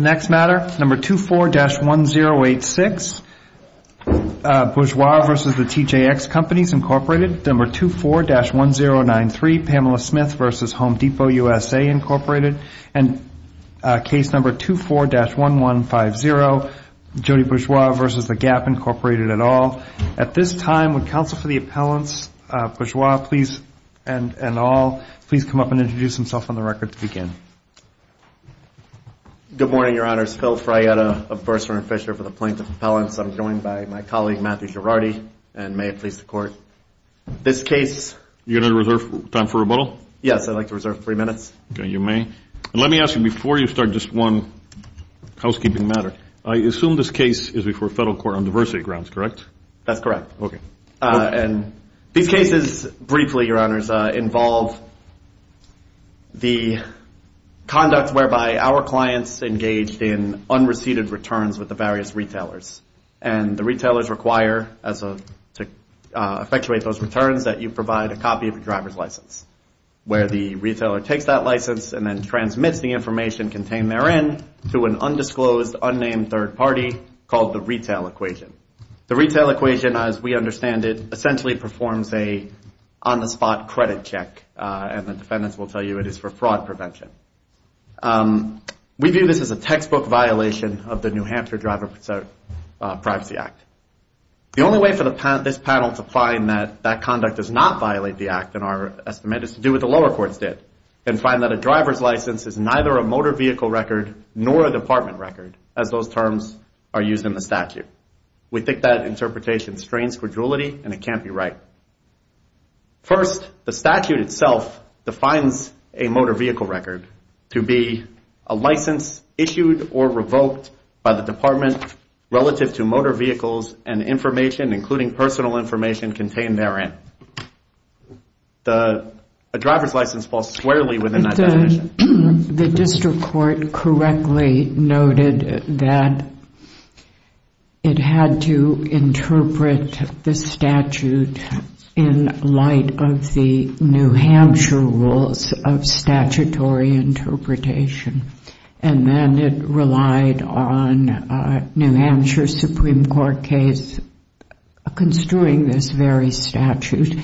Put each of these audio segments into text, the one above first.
24-1093 Pamela Smith v. Home Depot, USA 24-1150 Jody Bourgeois v. The Gap, Inc. Phil Freyetta v. Bursar & Fisher v. The Plaintiff's Appellants I'm joined by my colleague, Matthew Girardi, and may it please the Court, this case... You're going to reserve time for rebuttal? Yes, I'd like to reserve three minutes. Okay, you may. And let me ask you before you start just one housekeeping matter. I assume this case is before federal court on diversity grounds, correct? That's correct. Okay. And these cases, briefly, Your Honors, involve the conduct whereby our clients engaged in unreceded returns with the various retailers. And the retailers require, to effectuate those returns, that you provide a copy of the driver's license where the retailer takes that license and then transmits the information contained therein to an undisclosed, unnamed third party called the retail equation. The retail equation, as we understand it, essentially performs a on-the-spot credit check, and the defendants will tell you it is for fraud prevention. We view this as a textbook violation of the New Hampshire Driver Privacy Act. The only way for this panel to find that that conduct does not violate the act in our estimate is to do what the lower courts did and find that a driver's license is neither a motor vehicle record nor a department record, as those terms are used in the statute. We think that interpretation strains credulity, and it can't be right. First, the statute itself defines a motor vehicle record to be a license issued or revoked by the department relative to motor vehicles and information, including personal information, contained therein. A driver's license falls squarely within that definition. The district court correctly noted that it had to interpret the statute in light of the New Hampshire rules of statutory interpretation, and then it relied on a New Hampshire Supreme Court case construing this very statute,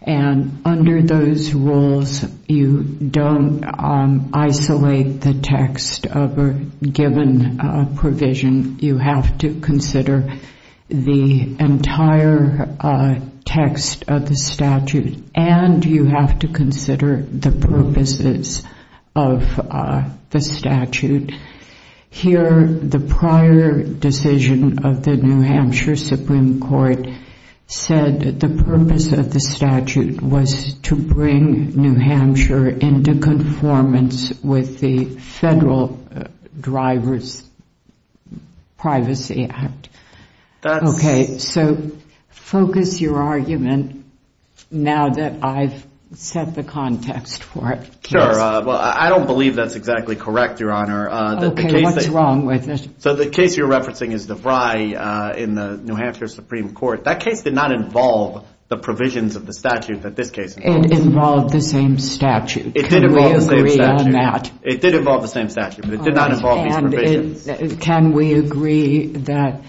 and under those rules you don't isolate the text of a given provision. You have to consider the entire text of the statute, and you have to consider the purposes of the statute. Here, the prior decision of the New Hampshire Supreme Court said that the purpose of the statute was to bring New Hampshire into conformance with the Federal Driver's Privacy Act. Okay, so focus your argument now that I've set the context for it. Sure. Well, I don't believe that's exactly correct, Your Honor. Okay, what's wrong with it? So the case you're referencing is DeVry in the New Hampshire Supreme Court. That case did not involve the provisions of the statute that this case involves. It involved the same statute. It did involve the same statute. Can we agree on that? It did involve the same statute, but it did not involve these provisions. Can we agree that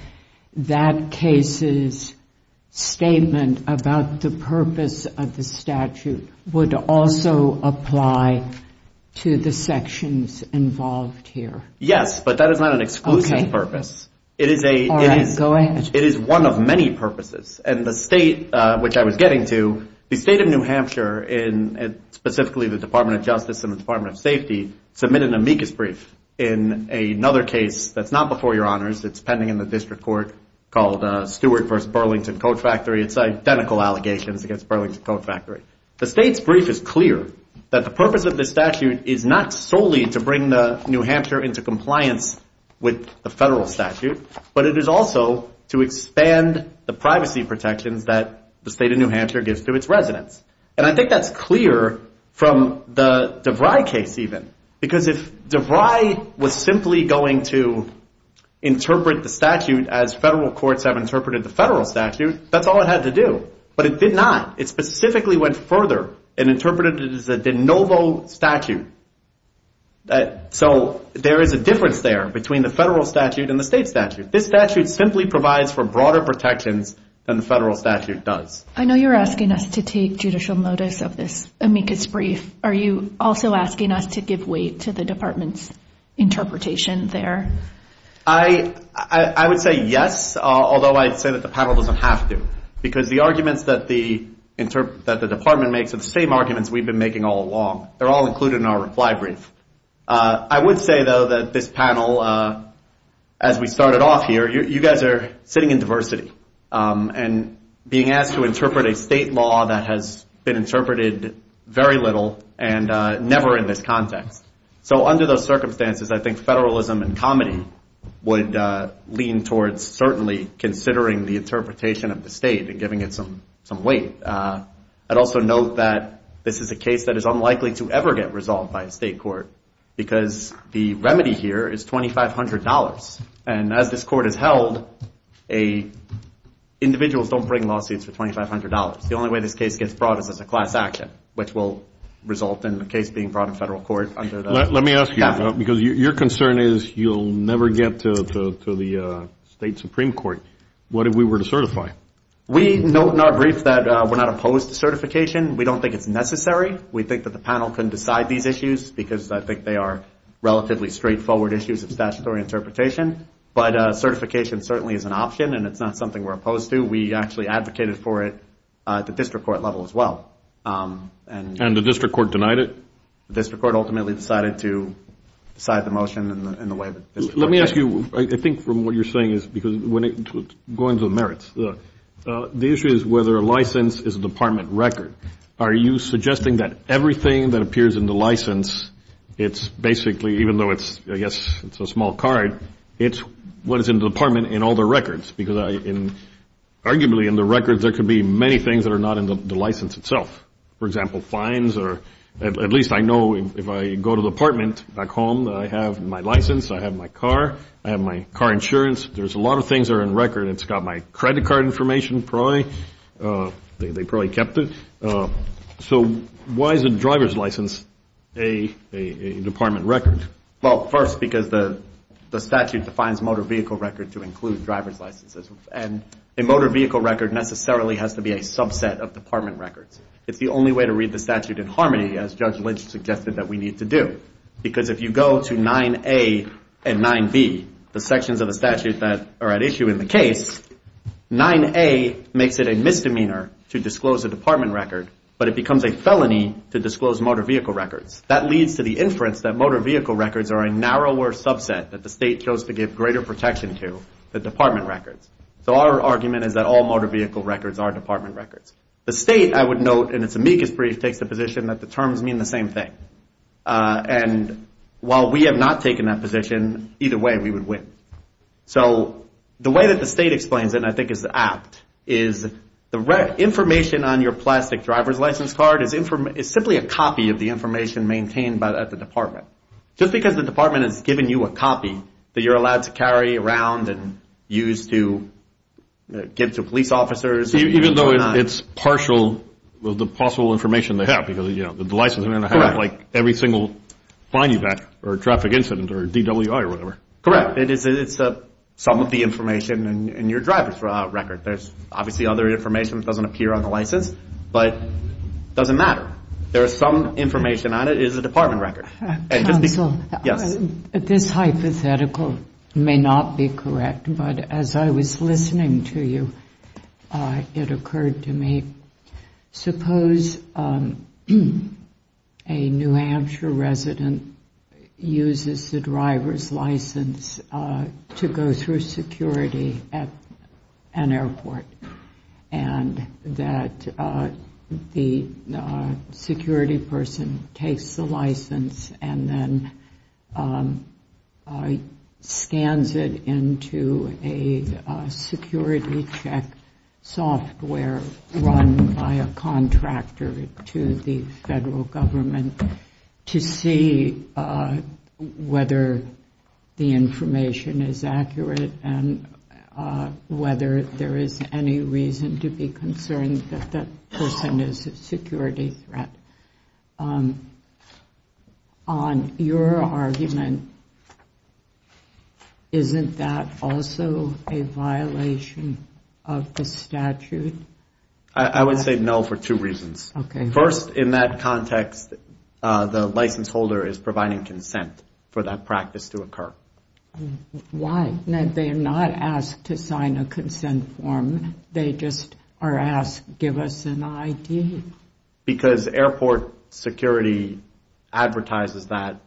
that case's statement about the purpose of the statute would also apply to the sections involved here? Yes, but that is not an exclusive purpose. Okay. All right, go ahead. It is one of many purposes, and the state which I was getting to, the State of New Hampshire, specifically the Department of Justice and the Department of Safety, submitted an amicus brief in another case that's not before your honors. It's pending in the district court called Stewart v. Burlington Coat Factory. It's identical allegations against Burlington Coat Factory. The state's brief is clear that the purpose of this statute is not solely to bring New Hampshire into compliance with the federal statute, but it is also to expand the privacy protections that the State of New Hampshire gives to its residents. And I think that's clear from the DeVry case even, because if DeVry was simply going to interpret the statute as federal courts have interpreted the federal statute, that's all it had to do. But it did not. It specifically went further and interpreted it as a de novo statute. So there is a difference there between the federal statute and the state statute. This statute simply provides for broader protections than the federal statute does. I know you're asking us to take judicial notice of this amicus brief. Are you also asking us to give weight to the department's interpretation there? I would say yes, although I'd say that the panel doesn't have to, because the arguments that the department makes are the same arguments we've been making all along. They're all included in our reply brief. I would say, though, that this panel, as we started off here, you guys are sitting in diversity and being asked to interpret a state law that has been interpreted very little and never in this context. So under those circumstances, I think federalism and comedy would lean towards certainly considering the interpretation of the state and giving it some weight. I'd also note that this is a case that is unlikely to ever get resolved by a state court, because the remedy here is $2,500. And as this court has held, individuals don't bring lawsuits for $2,500. The only way this case gets brought is as a class action, which will result in the case being brought in federal court under the statute. Let me ask you, because your concern is you'll never get to the state supreme court. What if we were to certify? We note in our brief that we're not opposed to certification. We don't think it's necessary. We think that the panel can decide these issues, because I think they are relatively straightforward issues of statutory interpretation. But certification certainly is an option, and it's not something we're opposed to. We actually advocated for it at the district court level as well. And the district court denied it? The district court ultimately decided to decide the motion in the way that this court did. Let me ask you, I think from what you're saying, because going to the merits, the issue is whether a license is a department record. Are you suggesting that everything that appears in the license, it's basically, even though it's a small card, it's what is in the department in all the records? Because arguably in the records there could be many things that are not in the license itself. For example, fines, or at least I know if I go to the apartment back home that I have my license, I have my car, I have my car insurance. There's a lot of things that are in record. It's got my credit card information. They probably kept it. So why is a driver's license a department record? Well, first, because the statute defines motor vehicle record to include driver's licenses. And a motor vehicle record necessarily has to be a subset of department records. It's the only way to read the statute in harmony, as Judge Lynch suggested that we need to do. Because if you go to 9A and 9B, the sections of the statute that are at issue in the case, 9A makes it a misdemeanor to disclose a department record, but it becomes a felony to disclose motor vehicle records. That leads to the inference that motor vehicle records are a narrower subset that the state chose to give greater protection to than department records. So our argument is that all motor vehicle records are department records. The state, I would note, in its amicus brief, takes the position that the terms mean the same thing. And while we have not taken that position, either way we would win. So the way that the state explains it, and I think is apt, is the information on your plastic driver's license card is simply a copy of the information maintained at the department. Just because the department has given you a copy that you're allowed to carry around and use to give to police officers. Even though it's partial with the possible information they have, because, you know, the license is going to have, like, every single fine you've had or traffic incident or DWI or whatever. Correct. It's some of the information in your driver's record. There's obviously other information that doesn't appear on the license, but it doesn't matter. There is some information on it. It is a department record. Counsel. Yes. This hypothetical may not be correct, but as I was listening to you, it occurred to me, suppose a New Hampshire resident uses the driver's license to go through security at an airport and that the security person takes the license and then scans it into a security check software run by a contractor to the federal government to see whether the information is accurate and whether there is any reason to be concerned that that person is a security threat. On your argument, isn't that also a violation of the statute? I would say no for two reasons. First, in that context, the license holder is providing consent for that practice to occur. Why? They're not asked to sign a consent form. They just are asked, give us an ID. Because airport security advertises that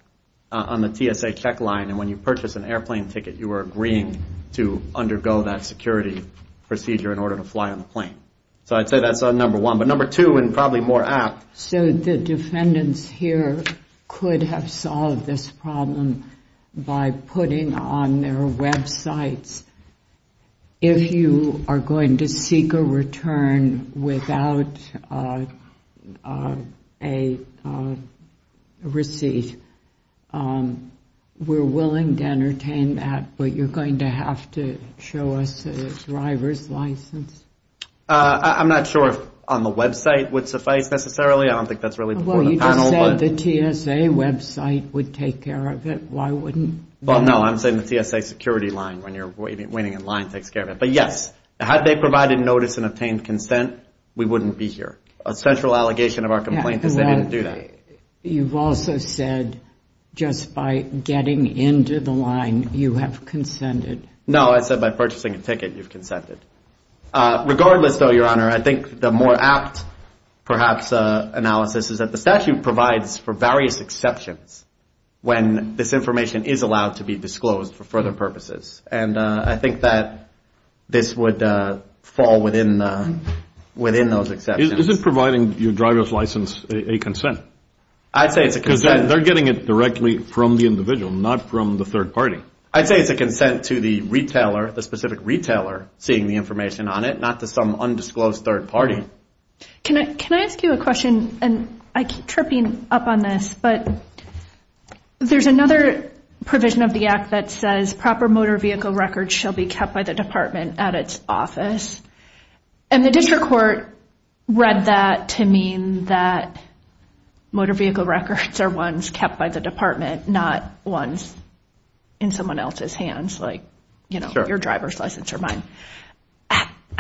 on the TSA check line, and when you purchase an airplane ticket, you are agreeing to undergo that security procedure in order to fly on the plane. So I'd say that's number one. But number two, and probably more apt. So the defendants here could have solved this problem by putting on their websites, if you are going to seek a return without a receipt, we're willing to entertain that, but you're going to have to show us a driver's license? I'm not sure if on the website would suffice necessarily. I don't think that's really before the panel. Well, you just said the TSA website would take care of it. Why wouldn't they? Well, no, I'm saying the TSA security line, when you're waiting in line, takes care of it. But yes, had they provided notice and obtained consent, we wouldn't be here. A central allegation of our complaint is they didn't do that. You've also said just by getting into the line, you have consented. No, I said by purchasing a ticket, you've consented. Regardless, though, Your Honor, I think the more apt perhaps analysis is that the statute provides for various exceptions when this information is allowed to be disclosed for further purposes. And I think that this would fall within those exceptions. Is it providing your driver's license a consent? I'd say it's a consent. Because they're getting it directly from the individual, not from the third party. I'd say it's a consent to the retailer, the specific retailer, seeing the information on it, not to some undisclosed third party. Can I ask you a question? And I keep tripping up on this, but there's another provision of the Act that says proper motor vehicle records shall be kept by the department at its office. And the district court read that to mean that motor vehicle records are ones kept by the department, not ones in someone else's hands, like your driver's license or mine.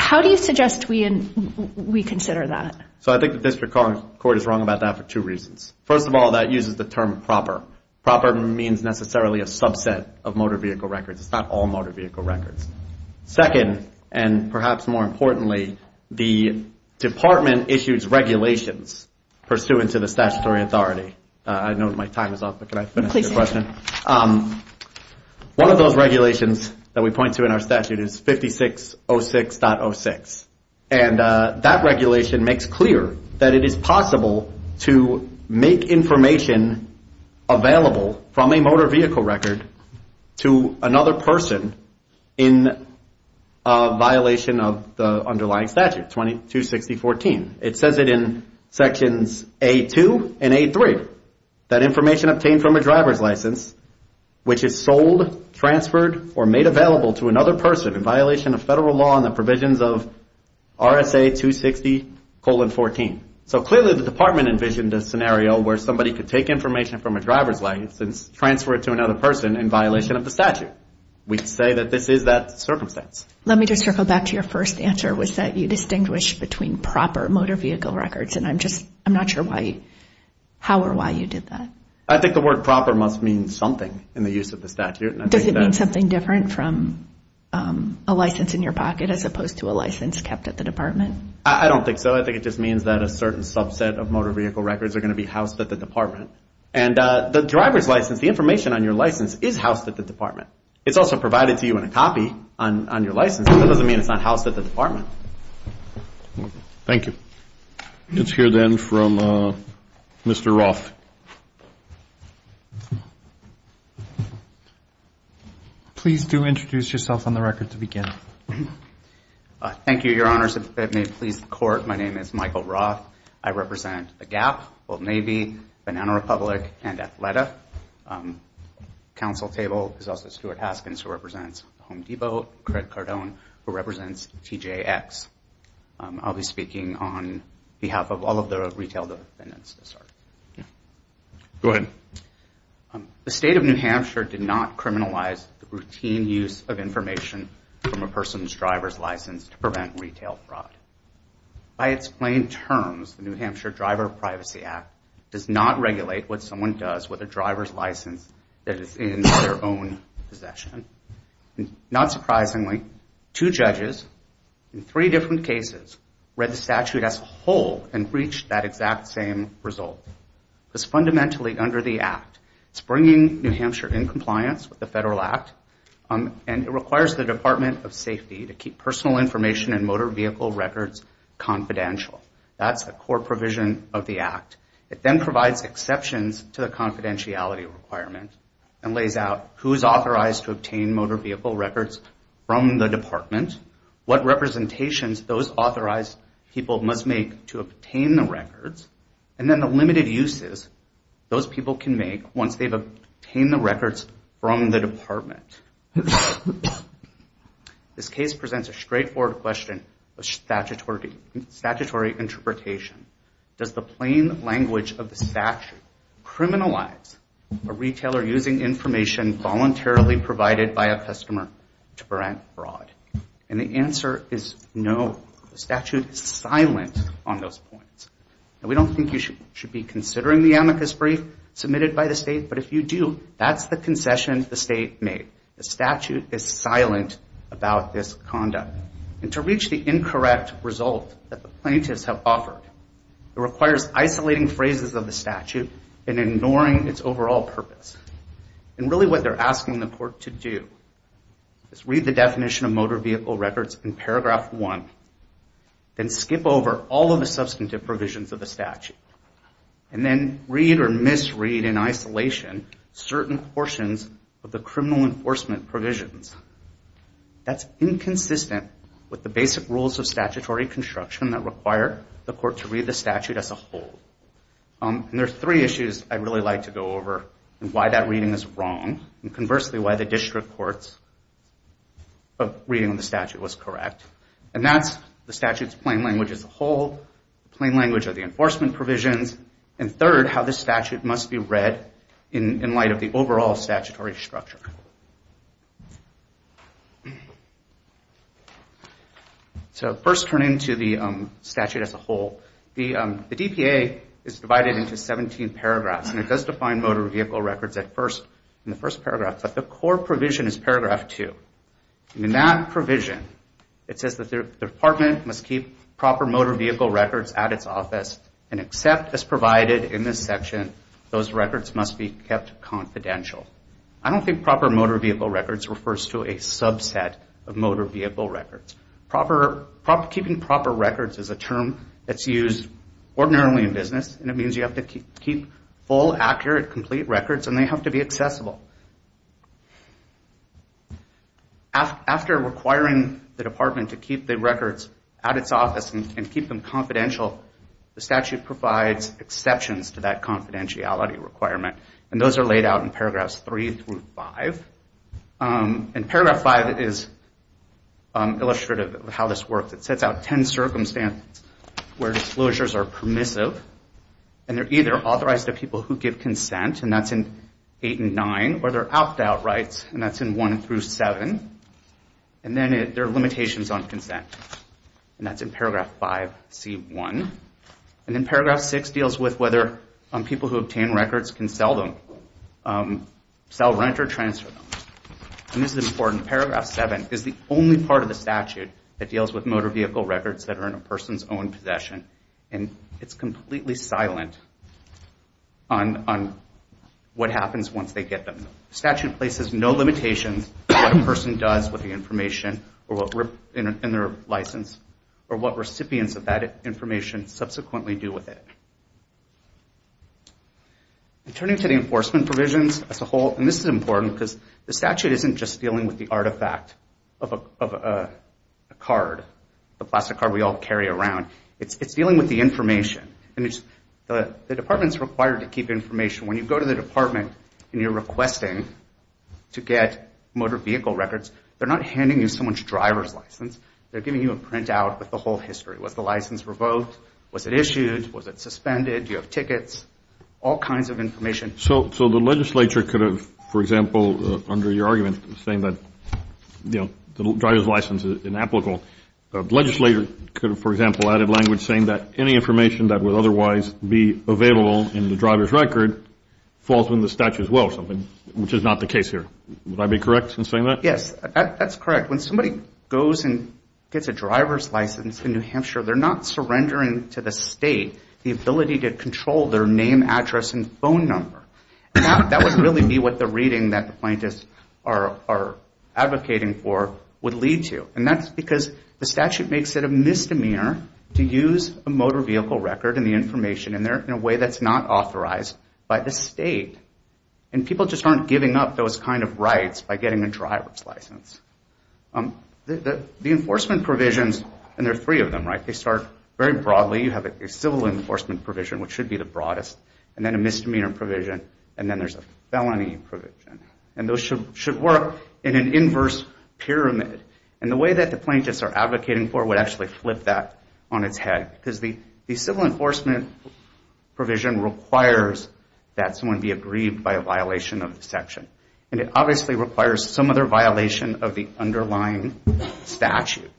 How do you suggest we consider that? So I think the district court is wrong about that for two reasons. First of all, that uses the term proper. Proper means necessarily a subset of motor vehicle records. It's not all motor vehicle records. Second, and perhaps more importantly, the department issues regulations pursuant to the statutory authority. I know my time is up, but can I finish the question? One of those regulations that we point to in our statute is 5606.06. And that regulation makes clear that it is possible to make information available from a motor vehicle record to another person in violation of the underlying statute, 2260.14. It says it in sections A.2 and A.3, that information obtained from a driver's license which is sold, transferred, or made available to another person in violation of federal law and the provisions of RSA 260.14. So clearly the department envisioned a scenario where somebody could take information from a driver's license, transfer it to another person in violation of the statute. We say that this is that circumstance. Let me just circle back to your first answer, which was that you distinguish between proper motor vehicle records. And I'm not sure how or why you did that. I think the word proper must mean something in the use of the statute. Does it mean something different from a license in your pocket as opposed to a license kept at the department? I don't think so. I think it just means that a certain subset of motor vehicle records are going to be housed at the department. And the driver's license, the information on your license, is housed at the department. It's also provided to you in a copy on your license. That doesn't mean it's not housed at the department. Thank you. Let's hear, then, from Mr. Roth. Please do introduce yourself on the record to begin. Thank you, Your Honors. If it may please the Court, my name is Michael Roth. I represent The Gap, Old Navy, Banana Republic, and Athleta. The counsel table is also Stuart Haskins, who represents Home Depot, and Craig Cardone, who represents TJX. I'll be speaking on behalf of all of the retail defendants. Go ahead. The State of New Hampshire did not criminalize the routine use of information from a person's driver's license to prevent retail fraud. By its plain terms, the New Hampshire Driver Privacy Act does not regulate what someone does with a driver's license that is in their own possession. Not surprisingly, two judges in three different cases read the statute as a whole and reached that exact same result. It was fundamentally under the Act. It's bringing New Hampshire in compliance with the Federal Act, and it requires the Department of Safety to keep personal information and motor vehicle records confidential. That's a core provision of the Act. It then provides exceptions to the confidentiality requirement and lays out who is authorized to obtain motor vehicle records from the Department, what representations those authorized people must make to obtain the records, and then the limited uses those people can make once they've obtained the records from the Department. This case presents a straightforward question of statutory interpretation. Does the plain language of the statute criminalize a retailer using information voluntarily provided by a customer to prevent fraud? And the answer is no. The statute is silent on those points. We don't think you should be considering the amicus brief submitted by the State, but if you do, that's the concession the State made. The statute is silent about this conduct. And to reach the incorrect result that the plaintiffs have offered, it requires isolating phrases of the statute and ignoring its overall purpose. And really what they're asking the court to do is read the definition of motor vehicle records in paragraph one, then skip over all of the substantive provisions of the statute, and then read or misread in isolation certain portions of the criminal enforcement provisions. That's inconsistent with the basic rules of statutory construction that require the court to read the statute as a whole. And there are three issues I'd really like to go over and why that reading is wrong, and conversely why the district court's reading of the statute was correct. And that's the statute's plain language as a whole, the plain language of the enforcement provisions, and third, how the statute must be read in light of the overall statutory structure. So first turning to the statute as a whole, the DPA is divided into 17 paragraphs, and it does define motor vehicle records in the first paragraph, but the core provision is paragraph two. In that provision, it says that the department must keep proper motor vehicle records at its office and accept as provided in this section, those records must be kept confidential. I don't think proper motor vehicle records refers to a subset of motor vehicle records. Keeping proper records is a term that's used ordinarily in business, and it means you have to keep full, accurate, complete records, and they have to be accessible. After requiring the department to keep the records at its office and keep them confidential, the statute provides exceptions to that confidentiality requirement, and those are laid out in paragraphs three through five. And paragraph five is illustrative of how this works. It sets out 10 circumstances where disclosures are permissive, and they're either authorized to people who give consent, and that's in eight and nine, or they're opt-out rights, and that's in one through seven, and then there are limitations on consent, and that's in paragraph five, C1. And then paragraph six deals with whether people who obtain records can sell them, sell, rent, or transfer them. And this is important. Paragraph seven is the only part of the statute that deals with motor vehicle records that are in a person's own possession, and it's completely silent on what happens once they get them. The statute places no limitations on what a person does with the information in their license or what recipients of that information subsequently do with it. Turning to the enforcement provisions as a whole, and this is important because the statute isn't just dealing with the artifact of a card, the plastic card we all carry around. It's dealing with the information. The department's required to keep information. When you go to the department and you're requesting to get motor vehicle records, they're not handing you someone's driver's license. They're giving you a printout with the whole history. Was the license revoked? Was it issued? Was it suspended? Do you have tickets? All kinds of information. So the legislature could have, for example, under your argument, saying that, you know, the driver's license is inapplicable. The legislator could have, for example, added language saying that any information that would otherwise be available in the driver's record falls within the statute as well, which is not the case here. Would I be correct in saying that? Yes, that's correct. When somebody goes and gets a driver's license in New Hampshire, they're not surrendering to the state the ability to control their name, address, and phone number. That would really be what the reading that the plaintiffs are advocating for would lead to, and that's because the statute makes it a misdemeanor to use a motor vehicle record and the information in a way that's not authorized by the state. And people just aren't giving up those kind of rights by getting a driver's license. The enforcement provisions, and there are three of them, right? They start very broadly. You have a civil enforcement provision, which should be the broadest, and then a misdemeanor provision, and then there's a felony provision. And those should work in an inverse pyramid. And the way that the plaintiffs are advocating for would actually flip that on its head because the civil enforcement provision requires that someone be aggrieved by a violation of the section, and it obviously requires some other violation of the underlying statute.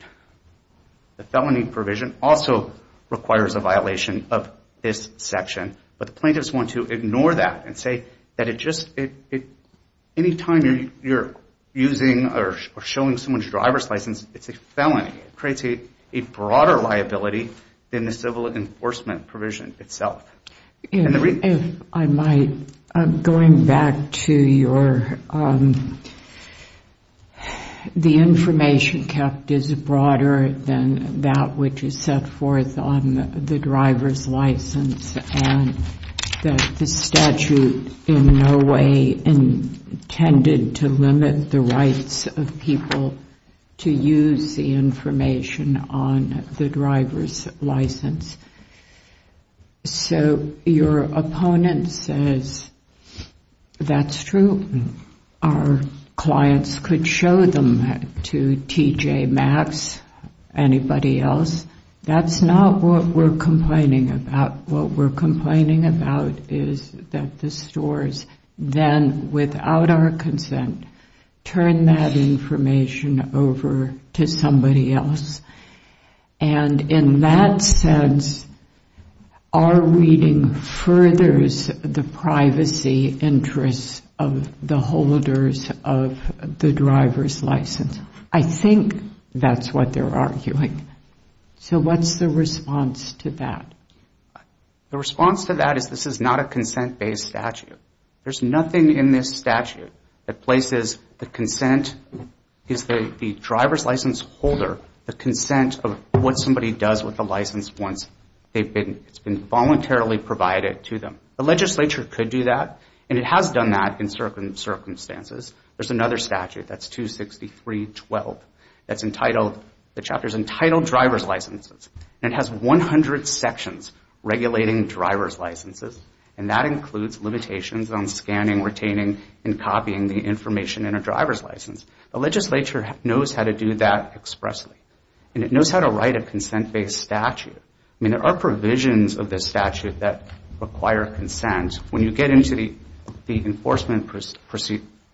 The felony provision also requires a violation of this section, but the plaintiffs want to ignore that and say that it just, any time you're using or showing someone's driver's license, it's a felony. It creates a broader liability than the civil enforcement provision itself. If I might, going back to your, the information kept is broader than that which is set forth on the driver's license and that the statute in no way intended to limit the rights of people to use the information on the driver's license. So your opponent says, that's true. Our clients could show them that to TJ Maxx, anybody else. That's not what we're complaining about. What we're complaining about is that the stores then, without our consent, turn that information over to somebody else. And in that sense, our reading furthers the privacy interests of the holders of the driver's license. I think that's what they're arguing. So what's the response to that? The response to that is this is not a consent-based statute. There's nothing in this statute that places the consent, the driver's license holder, the consent of what somebody does with the license once it's been voluntarily provided to them. The legislature could do that and it has done that in certain circumstances. There's another statute that's 263.12 that's entitled, the chapter's entitled Driver's Licenses and it has 100 sections regulating driver's licenses and that includes limitations on scanning, retaining, and copying the information in a driver's license. The legislature knows how to do that expressly and it knows how to write a consent-based statute. I mean, there are provisions of this statute that require consent. When you get into the enforcement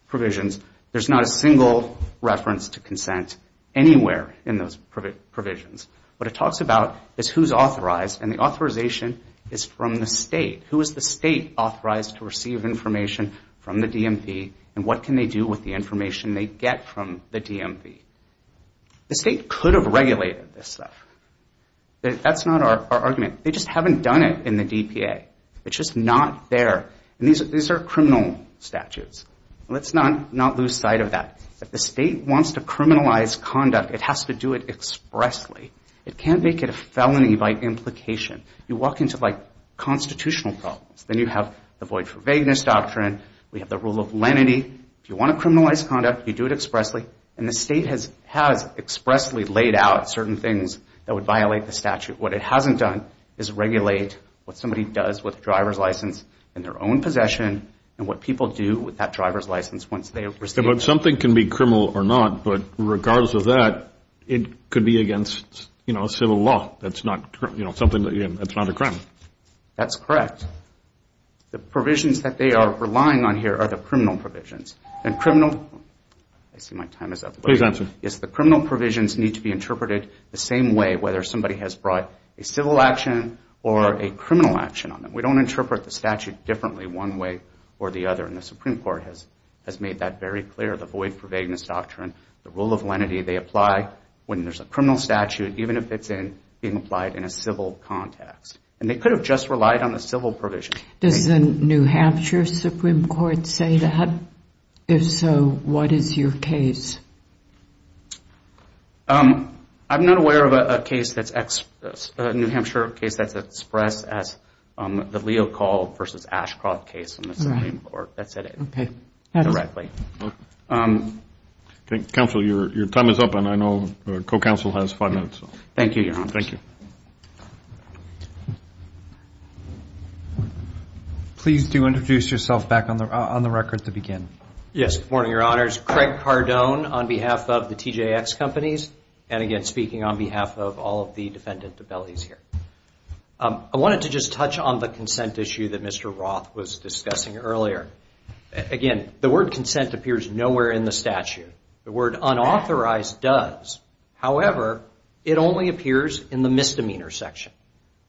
provisions, there's not a single reference to consent anywhere in those provisions. What it talks about is who's authorized and the authorization is from the state. Who is the state authorized to receive information from the DMV and what can they do with the information they get from the DMV? The state could have regulated this stuff. That's not our argument. They just haven't done it in the DPA. It's just not there. And these are criminal statutes. Let's not lose sight of that. If the state wants to criminalize conduct, it has to do it expressly. It can't make it a felony by implication. You walk into like constitutional problems. Then you have the void for vagueness doctrine. We have the rule of lenity. If you want to criminalize conduct, you do it expressly and the state has expressly laid out certain things that would violate the statute. What it hasn't done is regulate what somebody does with a driver's license in their own possession and what people do with that driver's license once they receive it. But something can be criminal or not, but regardless of that, it could be against civil law. That's not a crime. That's correct. The provisions that they are relying on here are the criminal provisions. I see my time is up. Please answer. The criminal provisions need to be interpreted the same way whether somebody has brought a civil action or a criminal action on them. We don't interpret the statute differently one way or the other. And the Supreme Court has made that very clear, the void for vagueness doctrine, the rule of lenity. They apply when there's a criminal statute, even if it's being applied in a civil context. And they could have just relied on the civil provision. Does the New Hampshire Supreme Court say that? If so, what is your case? I'm not aware of a case that's expressed, a New Hampshire case that's expressed as the Leo Call versus Ashcroft case in the Supreme Court that said it directly. Counsel, your time is up and I know the co-counsel has five minutes. Thank you, Your Honor. Please do introduce yourself back on the record to begin. Good morning, Your Honors. Craig Cardone on behalf of the TJX Companies. And again, speaking on behalf of all of the defendant appellees here. I wanted to just touch on the consent issue that Mr. Roth was discussing earlier. Again, the word consent appears nowhere in the statute. The word unauthorized does. However, it only appears in the misdemeanor section.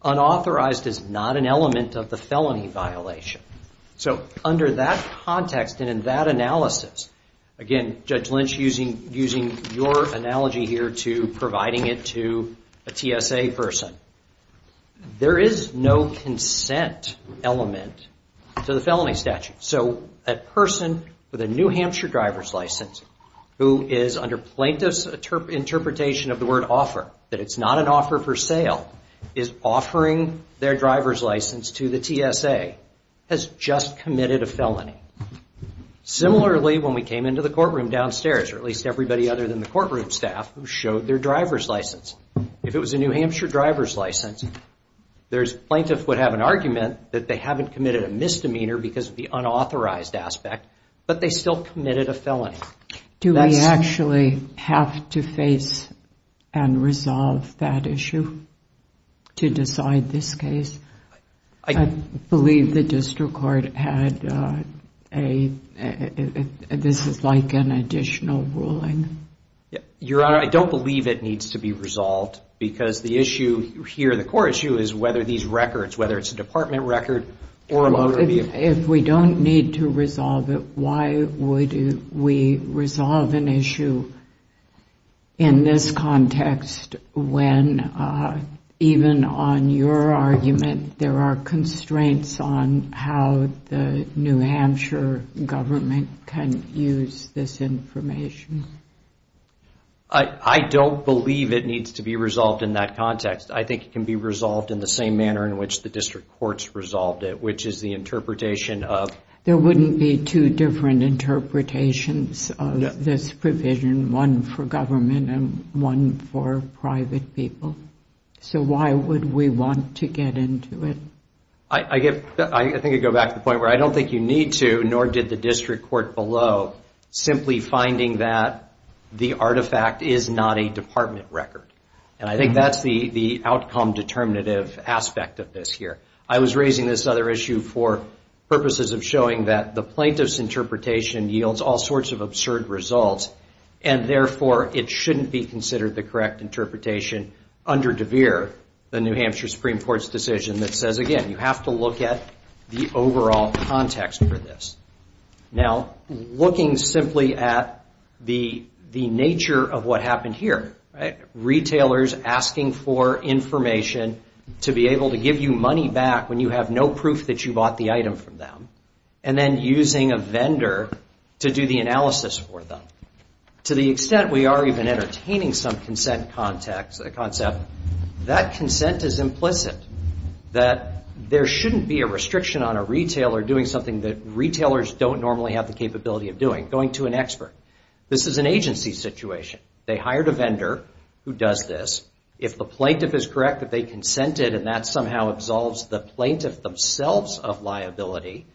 Unauthorized is not an element of the felony violation. So under that context and in that analysis, again, Judge Lynch using your analogy here to providing it to a TSA person. There is no consent element to the felony statute. So a person with a New Hampshire driver's license who is under plaintiff's interpretation of the word offer, that it's not an offer for sale, is offering their driver's license to the TSA, has just committed a felony. Similarly, when we came into the courtroom downstairs, or at least everybody other than the courtroom staff who showed their driver's license. If it was a New Hampshire driver's license, the plaintiff would have an argument that they haven't committed a misdemeanor because of the unauthorized aspect, but they still committed a felony. Do we actually have to face and resolve that issue to decide this case? I believe the district court had a, this is like an additional ruling. Your Honor, I don't believe it needs to be resolved because the issue here, the core issue is whether these records, whether it's a department record or a motor vehicle. If we don't need to resolve it, why would we resolve an issue in this context when even on your argument there are constraints on how the New Hampshire driver's license and government can use this information? I don't believe it needs to be resolved in that context. I think it can be resolved in the same manner in which the district courts resolved it, which is the interpretation of... There wouldn't be two different interpretations of this provision, one for government and one for private people. So why would we want to get into it? I think I'd go back to the point where I don't think you need to, nor did the district court below, simply finding that the artifact is not a department record. And I think that's the outcome determinative aspect of this here. I was raising this other issue for purposes of showing that the plaintiff's interpretation yields all sorts of absurd results, and therefore it shouldn't be considered the correct interpretation under Devere, the New Hampshire Supreme Court's decision that says, again, you have to look at the overall context for this. Now, looking simply at the nature of what happened here, retailers asking for information to be able to give you money back when you have no proof that you bought the item from them, and then using a vendor to do the analysis for them. To the extent we are even entertaining some consent concept, that consent is implicit, that there shouldn't be a restriction on a retailer doing something that retailers don't normally have the capability of doing, going to an expert. This is an agency situation. They hired a vendor who does this. If the plaintiff is correct that they consented and that somehow absolves the plaintiff themselves of liability,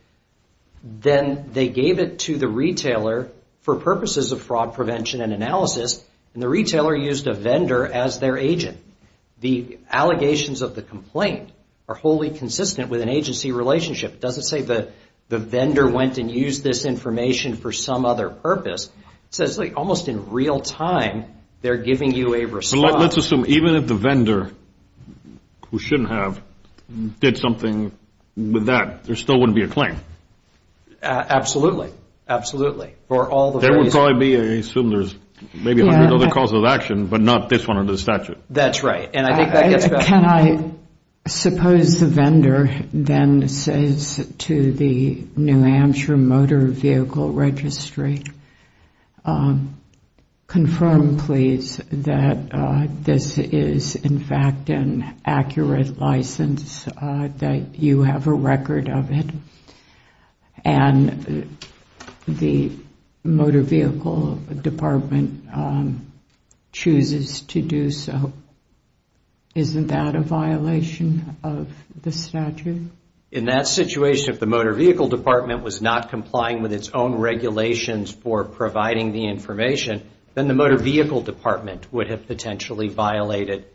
then they gave it to the retailer for purposes of fraud prevention and analysis, and the retailer used a vendor as their agent. The allegations of the complaint are wholly consistent with an agency relationship. It doesn't say the vendor went and used this information for some other purpose. It says almost in real time, they're giving you a response. Let's assume even if the vendor, who shouldn't have, did something with that, there still wouldn't be a claim. There would probably be, I assume there's maybe 100 other causes of action, but not this one under the statute. That's right. Can I suppose the vendor then says to the New Hampshire Motor Vehicle Registry, confirm please that this is in fact an accurate license, that you have a record of it, and the Motor Vehicle Department chooses to do so. Isn't that a violation of the statute? In that situation, if the Motor Vehicle Department was not complying with its own regulations for providing the information, then the Motor Vehicle Department would have potentially violated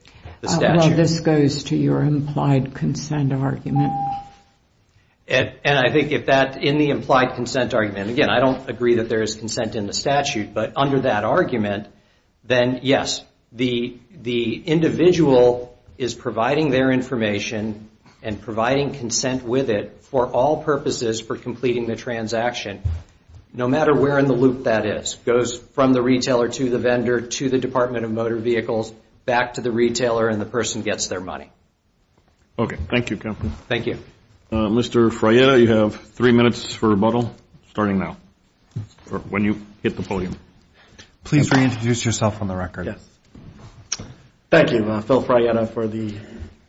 the statute. This goes to your implied consent argument. I think if that, in the implied consent argument, again, I don't agree that there is consent in the statute, but under that argument, then yes, the individual is providing their information and providing consent with it for all purposes for completing the transaction, no matter where in the loop that is. It goes from the retailer to the vendor to the Department of Motor Vehicles, back to the retailer, and the person gets their money. Okay. Thank you, Kevin. Thank you. Mr. Frietta, you have three minutes for rebuttal, starting now, when you hit the podium. Please reintroduce yourself on the record. Thank you, Phil Frietta, for the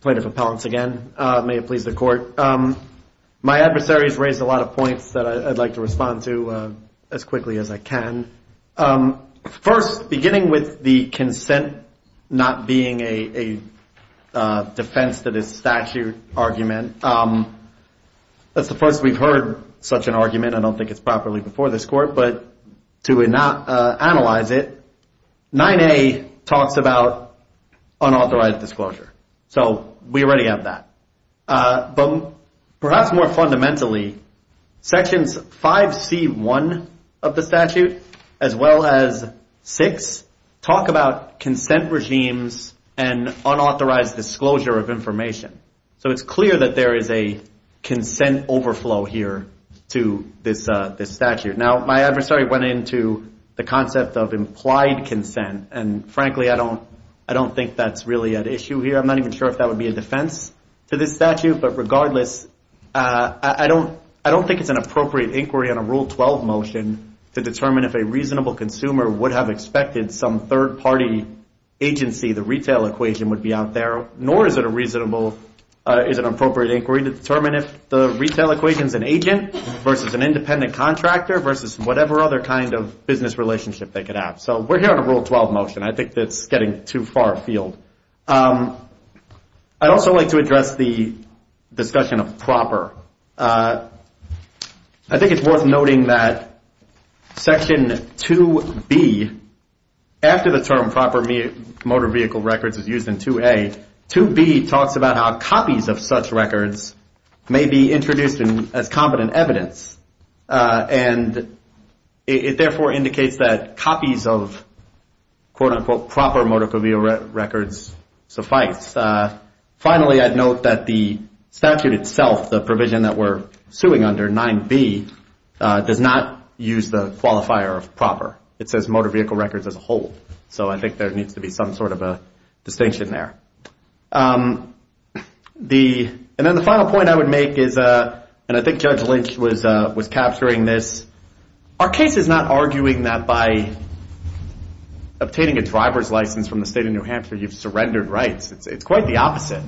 plaintiff appellants again. May it please the Court. My adversaries raised a lot of points that I'd like to respond to as quickly as I can. First, beginning with the consent not being a defense that is statute argument, that's the first we've heard such an argument. I don't think it's properly before this Court, but to analyze it, 9A talks about unauthorized disclosure. So we already have that. But perhaps more fundamentally, Sections 5C1 of the statute, as well as 6, talk about consent regimes and unauthorized disclosure of information. So it's clear that there is a consent overflow here to this statute. Now, my adversary went into the concept of implied consent, and frankly, I don't think that's really at issue here. I'm not even sure if that would be a defense to this statute, but regardless, I don't think it's an appropriate inquiry on a Rule 12 motion to determine if a reasonable consumer would have expected some third-party agency, the retail equation would be out there, nor is it an appropriate inquiry to determine if the retail equation is an agent versus an independent contractor versus whatever other kind of business relationship they could have. So we're here on a Rule 12 motion. I think that's getting too far afield. I'd also like to address the discussion of proper. I think it's worth noting that Section 2B, after the term proper motor vehicle records is used in 2A, 2B talks about how copies of such records may be introduced as competent evidence, and it therefore indicates that copies of, quote-unquote, proper motor vehicle records suffice. Finally, I'd note that the statute itself, the provision that we're suing under, 9B, does not use the qualifier of proper. It says motor vehicle records as a whole. So I think there needs to be some sort of a distinction there. And then the final point I would make is, and I think Judge Lynch was capturing this, our case is not arguing that by obtaining a driver's license from the state of New Hampshire you've surrendered rights. It's quite the opposite.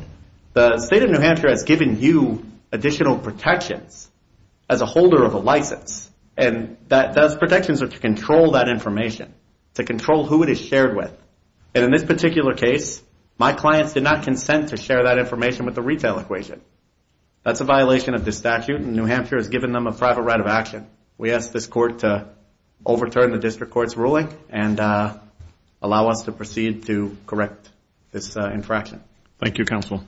The state of New Hampshire has given you additional protections as a holder of a license. And those protections are to control that information, to control who it is shared with. And in this particular case, my clients did not consent to share that information with the retail equation. That's a violation of the statute, and New Hampshire has given them a private right of action. We ask this Court to overturn the District Court's ruling and allow us to proceed to correct this infraction. Thank you, Counsel.